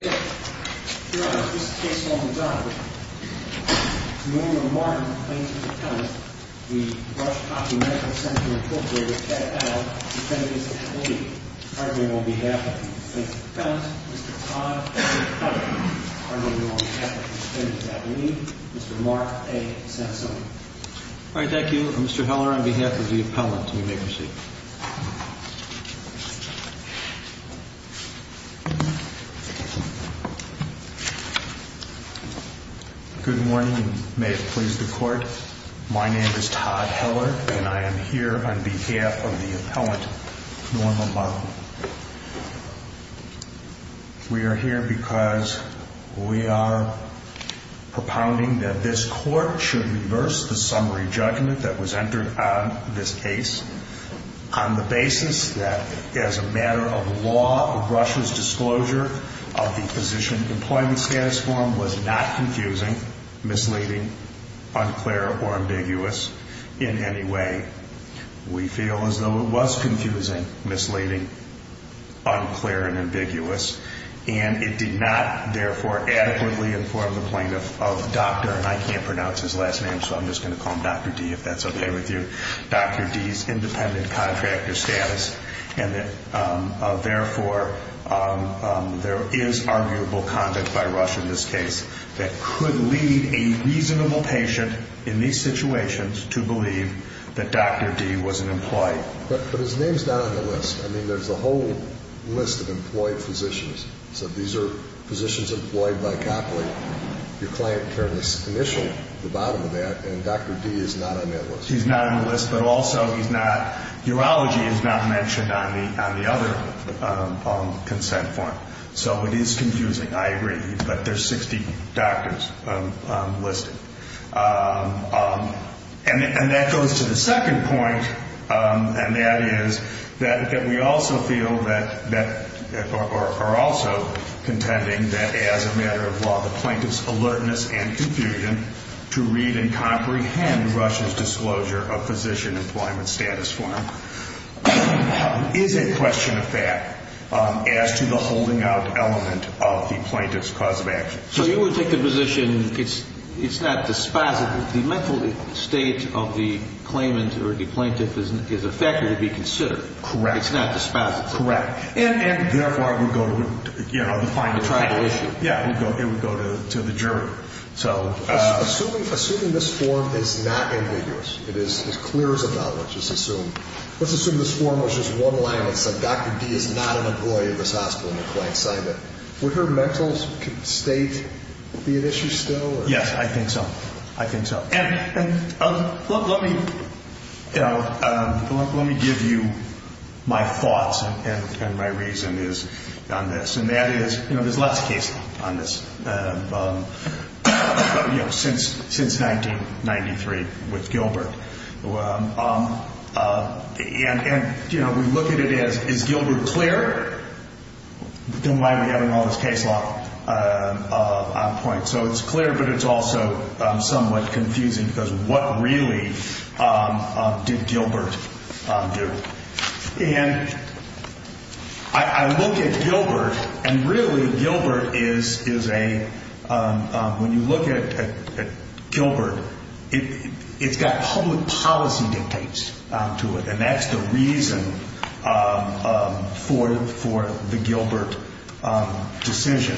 The Rush-Copley Medical Center, Inc. with Pat Heller, Defendant's Affiliate. Hardly on behalf of the Defendant's Affiliate, Mr. Todd Heller. Hardly on behalf of the Defendant's Affiliate, Mr. Mark A. Sansoni. All right, thank you. Mr. Heller, on behalf of the Appellant, you may proceed. Good morning, and may it please the Court. My name is Todd Heller, and I am here on behalf of the Appellant, Norma Lovell. We are here because we are propounding that this Court should reverse the summary judgment that was entered on this case on the basis that, as a matter of law, Rush's disclosure of the Physician Employment Status Form was not confusing, misleading, unclear, or ambiguous in any way. We feel as though it was confusing, misleading, unclear, and ambiguous, and it did not, therefore, adequately inform the Plaintiff of Dr., and I can't pronounce his last name, so I'm just going to call him Dr. D., if that's okay with you, Dr. D.'s independent contractor status, and that, therefore, there is arguable conduct by Rush in this case that could lead a reasonable patient in these situations to believe that Dr. D. was an employee. But his name's not on the list. I mean, there's a whole list of employed physicians. So these are physicians employed by Copley. Your client turned the initial, the bottom of that, and Dr. D. is not on that list. He's not on the list, but also he's not, urology is not mentioned on the other consent form. So it is confusing, I agree, but there's 60 doctors listed. And that goes to the second point, and that is that we also feel that, or are also contending that as a matter of law, the Plaintiff's alertness and confusion to read and comprehend Rush's disclosure of Physician Employment Status Form is a question of fact as to the holding out element of the Plaintiff's cause of action. So you would take the position it's not dispositive. The mental state of the claimant or the Plaintiff is a factor to be considered. Correct. It's not dispositive. Correct. And, therefore, it would go to, you know, the final panel. The tribal issue. Yeah, it would go to the jury. Assuming this form is not ambiguous, it is clear as a bell, let's assume this form was just one line that said, Dr. D. is not an employee of this hospital and the client signed it, would her mental state be an issue still? Yes, I think so. I think so. And let me give you my thoughts and my reason is on this, and that is, you know, there's lots of cases on this. You know, since 1993 with Gilbert. And, you know, we look at it as, is Gilbert clear? Don't mind me having all this case law on point. So it's clear, but it's also somewhat confusing because what really did Gilbert do? And I look at Gilbert, and really Gilbert is a, when you look at Gilbert, it's got public policy dictates to it, and that's the reason for the Gilbert decision.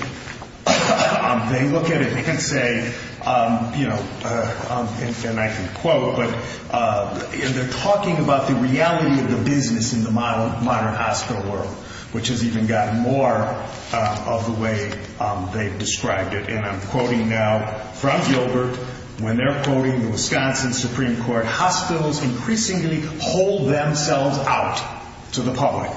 They look at it and say, you know, and I can quote, but they're talking about the reality of the business in the modern hospital world, which has even gotten more of the way they've described it. And I'm quoting now from Gilbert when they're quoting the Wisconsin Supreme Court, hospitals increasingly hold themselves out to the public.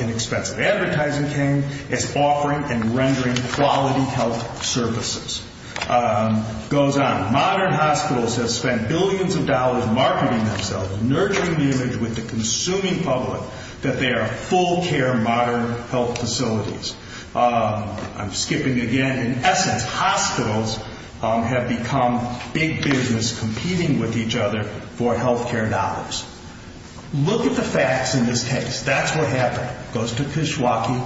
Inexpensive advertising came as offering and rendering quality health services. It goes on, modern hospitals have spent billions of dollars marketing themselves, nurturing the image with the consuming public that they are full care modern health facilities. I'm skipping again. In essence, hospitals have become big business competing with each other for health care dollars. Look at the facts in this case. That's what happened. Goes to Kishwaukee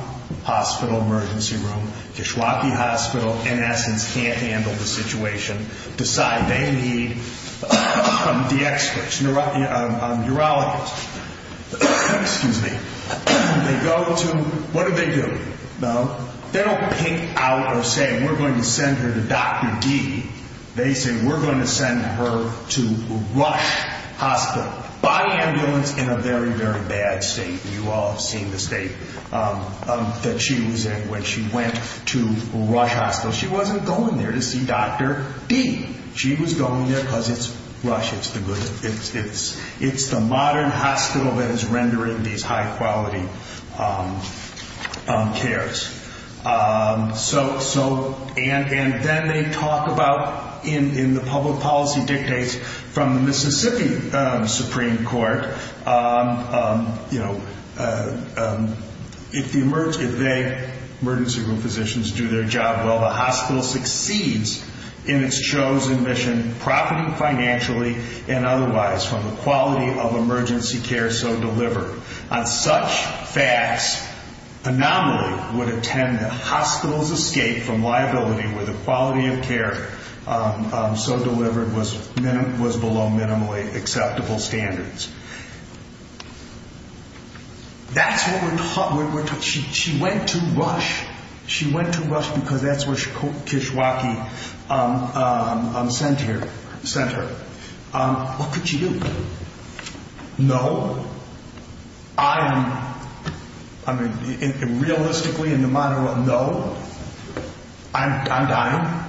Hospital emergency room. Kishwaukee Hospital, in essence, can't handle the situation. Decide they need the experts, urologists. Excuse me. They go to, what do they do? They don't pink out or say we're going to send her to Dr. D. They say we're going to send her to Rush Hospital. Body ambulance in a very, very bad state. You all have seen the state that she was in when she went to Rush Hospital. She wasn't going there to see Dr. D. She was going there because it's Rush. It's the modern hospital that is rendering these high quality cares. And then they talk about, in the public policy dictates from the Mississippi Supreme Court, if they, emergency room physicians, do their job well, the hospital succeeds in its chosen mission, profiting financially and otherwise from the quality of emergency care so delivered. On such facts, anomaly would attend the hospital's escape from liability where the quality of care so delivered was below minimally acceptable standards. That's what we're taught. She went to Rush. She went to Rush because that's where Kishwaukee sent her. What could she do? No. I'm, I mean, realistically in the modern world, no. I'm dying.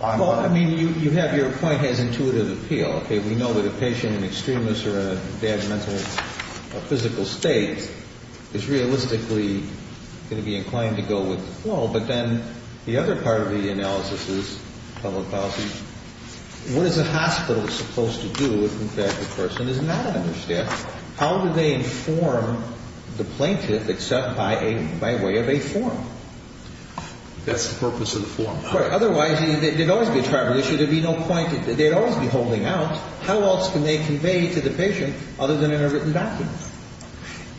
Well, I mean, you have your point as intuitive appeal. We know that a patient in extremis or in a bad mental or physical state is realistically going to be inclined to go with the flow. But then the other part of the analysis is public policy. What is a hospital supposed to do if the person is not understaffed? How do they inform the plaintiff except by way of a form? That's the purpose of the form. Otherwise, there'd always be a tribal issue. There'd be no point. They'd always be holding out. How else can they convey to the patient other than in a written document?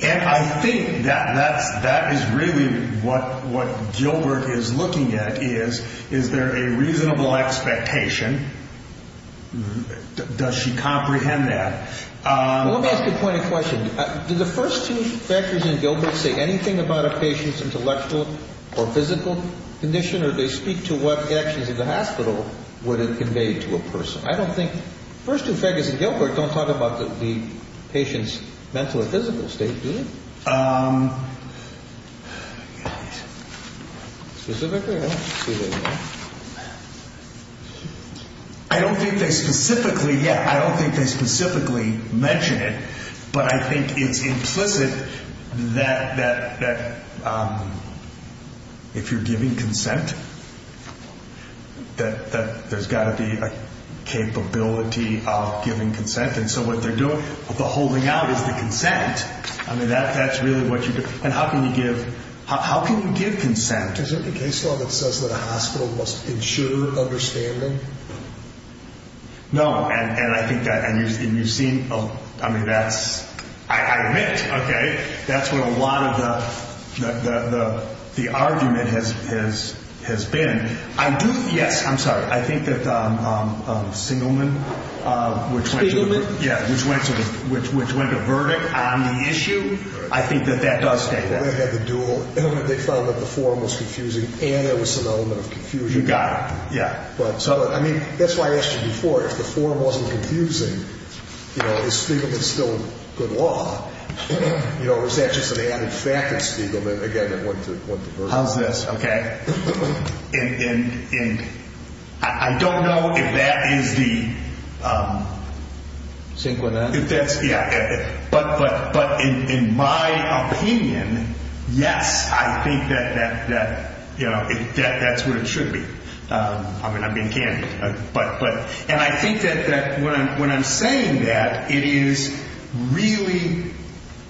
And I think that is really what Gilbert is looking at is, is there a reasonable expectation? Does she comprehend that? Well, let me ask you a point of question. Do the first two factors in Gilbert say anything about a patient's intellectual or physical condition? Or do they speak to what actions of the hospital would it convey to a person? I don't think, the first two factors in Gilbert don't talk about the patient's mental or physical state, do they? Specifically? I don't think they specifically, yeah, I don't think they specifically mention it. But I think it's implicit that if you're giving consent, that there's got to be a capability of giving consent. And so what they're doing, the holding out is the consent. I mean, that's really what you, and how can you give, how can you give consent? Is it the case law that says that a hospital must ensure understanding? No, and I think that, and you've seen, I mean, that's, I admit, okay, that's what a lot of the argument has been. I do, yes, I'm sorry, I think that Singelman, which went to the, yeah, which went to the, which went to verdict on the issue, I think that that does state that. They had the dual, they found that the form was confusing, and there was some element of confusion. You got it, yeah. But, so, I mean, that's why I asked you before, if the form wasn't confusing, you know, is Spiegelman still good law? You know, or is that just an added fact that Spiegelman, again, that went to, went to verdict? How's this, okay? And I don't know if that is the, if that's, yeah, but in my opinion, yes, I think that, you know, that's what it should be. I mean, I'm being candid. And I think that when I'm saying that, it is really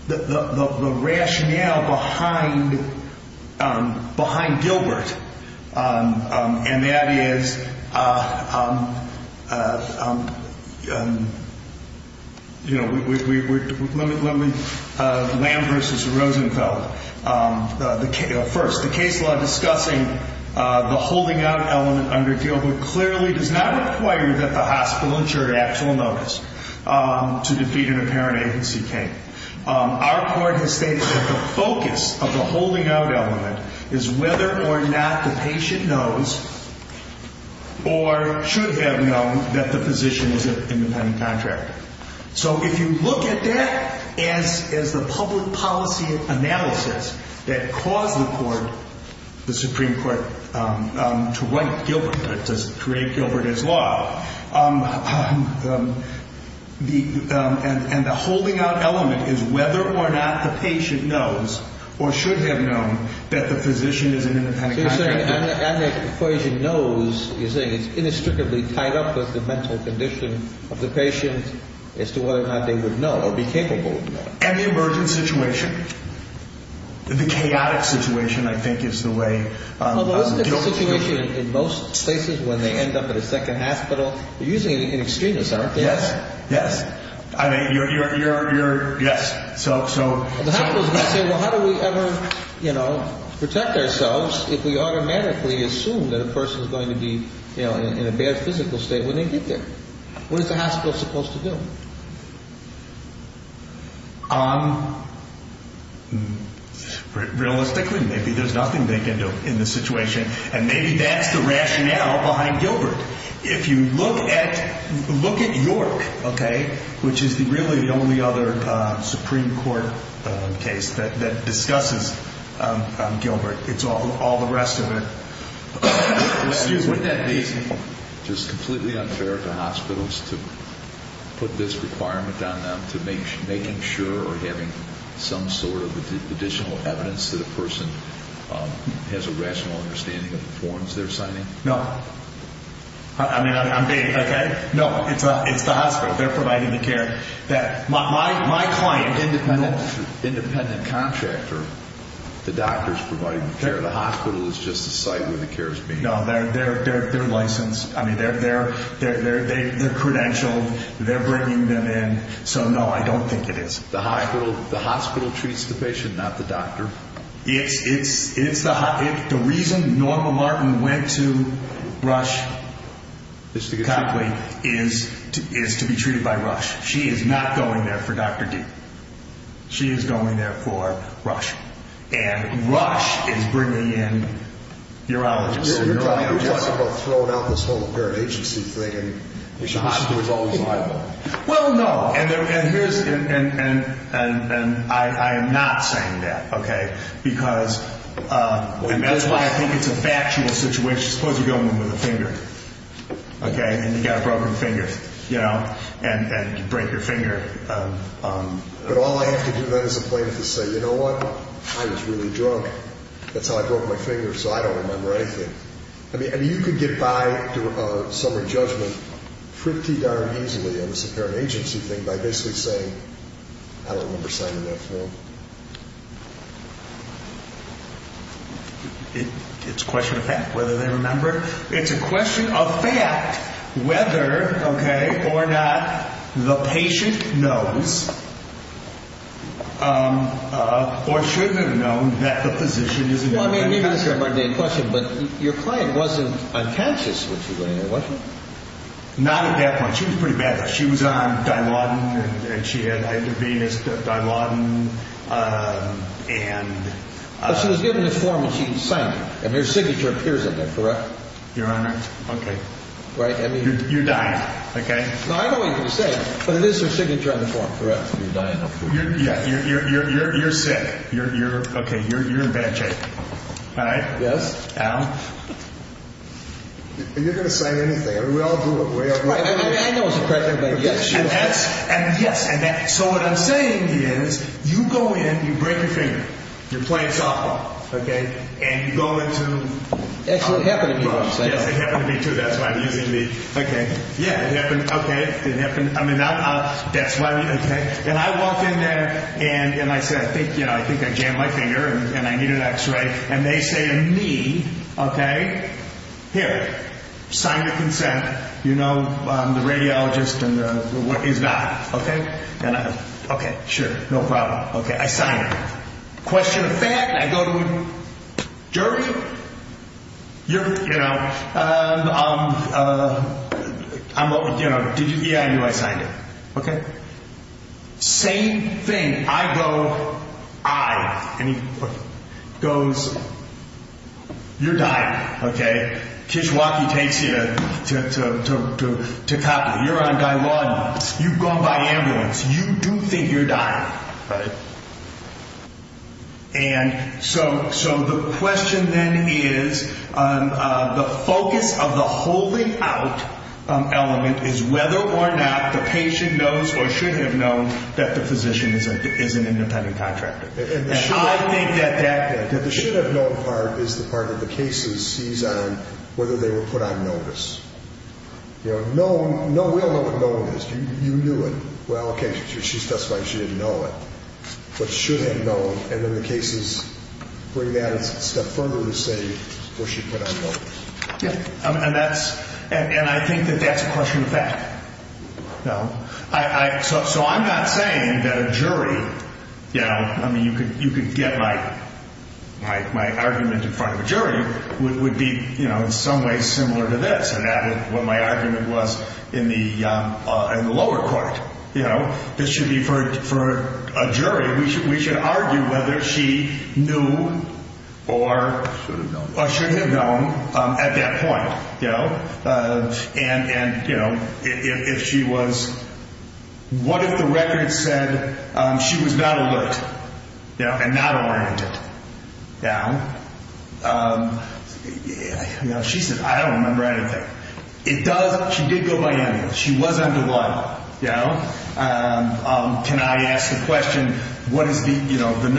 the rationale behind, behind Gilbert, and that is, you know, let me, let me, Lamb versus Rosenfeld. First, the case law discussing the holding out element under Gilbert clearly does not require that the hospital ensure actual notice to defeat an apparent agency claim. Our court has stated that the focus of the holding out element is whether or not the patient knows, or should have known, that the physician is an independent contractor. So if you look at that as, as the public policy analysis that caused the court, the Supreme Court, to write Gilbert, to create Gilbert as law, the, and the holding out element is whether or not the patient knows, or should have known, that the physician is an independent contractor. You're saying, and the equation knows, you're saying it's inextricably tied up with the mental condition of the patient as to whether or not they would know, or be capable of knowing. Any emergent situation, the chaotic situation, I think, is the way Gilbert's position is. Although isn't it the situation in most cases when they end up at a second hospital? You're using an extremist, aren't you? Yes, yes. I mean, you're, you're, you're, you're, yes, so, so. The hospital's going to say, well, how do we ever, you know, protect ourselves if we automatically assume that a person's going to be, you know, in a bad physical state when they get there? What is the hospital supposed to do? Realistically, maybe there's nothing they can do in this situation. And maybe that's the rationale behind Gilbert. If you look at, look at York, okay, which is the really the only other Supreme Court case that, that discusses Gilbert. It's all, all the rest of it. Excuse me. Wouldn't that be just completely unfair to hospitals to put this requirement on them to make, making sure or having some sort of additional evidence that a person has a rational understanding of the forms they're signing? No. I mean, I'm being, okay. No, it's, it's the hospital. They're providing the care that my, my, my client, independent, independent contractor, the doctor's providing the care. The hospital is just a site where the care is being provided. No, they're, they're, they're, they're licensed. I mean, they're, they're, they're, they're credentialed. They're bringing them in. So, no, I don't think it is. The hospital, the hospital treats the patient, not the doctor. It's, it's, it's the, the reason Norma Martin went to Rush is to be treated by Rush. She is not going there for Dr. D. She is going there for Rush. And Rush is bringing in urologists. You're talking about throwing out this whole current agency thing and the hospital is always liable. Well, no. And, and, and, and, and I, I am not saying that, okay, because, and that's why I think it's a factual situation. Suppose you're going in with a finger, okay, and you've got a broken finger, you know, and, and you break your finger. But all I have to do then is a plaintiff to say, you know what, I was really drunk. That's how I broke my finger, so I don't remember anything. I mean, you could get by a summary judgment pretty darn easily on this current agency thing by basically saying, I don't remember signing that form. It's a question of fact whether they remember. It's a question of fact whether, okay, or not the patient knows or shouldn't have known that the physician is involved. Well, I mean, maybe that's a mundane question, but your client wasn't unconscious when she went in there, was she? Not at that point. She was pretty bad. She was on Dilaudid and she had either venous Dilaudid and. But she was given a form and she signed it. And her signature appears in there, correct? Your Honor. Okay. Right. I mean. You're dying, okay? No, I know what you're going to say, but it is her signature on the form, correct? You're dying, of course. Yeah. You're, you're, you're, you're sick. You're, you're, okay. You're, you're in bad shape. All right? Yes. Al? You're going to say anything. I mean, we all do it. We all do it. I mean, I know it's a cracker, but yes. And that's, and yes. And that, so what I'm saying is you go in, you break your finger. You're playing softball. Okay. And you go into. Actually, it happened to me once. Yes, it happened to me too. That's why I'm using the, okay. Yeah, it happened. Okay. It happened. I mean, that's why we, okay. And I walked in there and, and I said, thank you. And I said, thank you. And I was like, I'm on my way to the office. I'm going to do it. I'm going to do it. And I think, I think I jammed my finger and I needed an X ray. And they say to me, okay. Here, sign your consent. You know, I'm the radiologist and the, what is that? Okay. Okay. Sure. No problem. Okay. I signed it. Question of fact, I go to the jury. You're, you know, I'm, you know, did you, yeah, I knew I signed it. Okay. Same thing. I go, I, and he goes, you're dying. Okay. Kishwaukee takes you to, to, to, to, to copy. You're on Guy Lawdon. You've gone by ambulance. You do think you're dying. Right. And so, so the question then is the focus of the holding out element is whether or not the patient knows or should have known that the physician is an independent contractor. And I think that that. That the should have known part is the part that the case sees on whether they were put on notice. You know, known, we all know what known is. You knew it. Well, okay. She testified she didn't know it. What should have known. And then the cases bring that a step further to say, well, she put on notice. Yeah. And that's, and I think that that's a question of fact. No, I, I, so, so I'm not saying that a jury, you know, I mean, you could, you could get my, my, my argument in front of a jury would, would be, you know, in some ways similar to this and added what my argument was in the, in the lower court. You know, this should be for, for a jury. We should, we should argue whether she knew or should have known at that point, you know, and, and, you know, if, if, if she was, what if the record said she was not alert, you know, and not oriented. Now, you know, she said, I don't remember anything. It does. She did go by ambulance. She was under what? Yeah. Can I ask the question? What is the, you know, the nurse?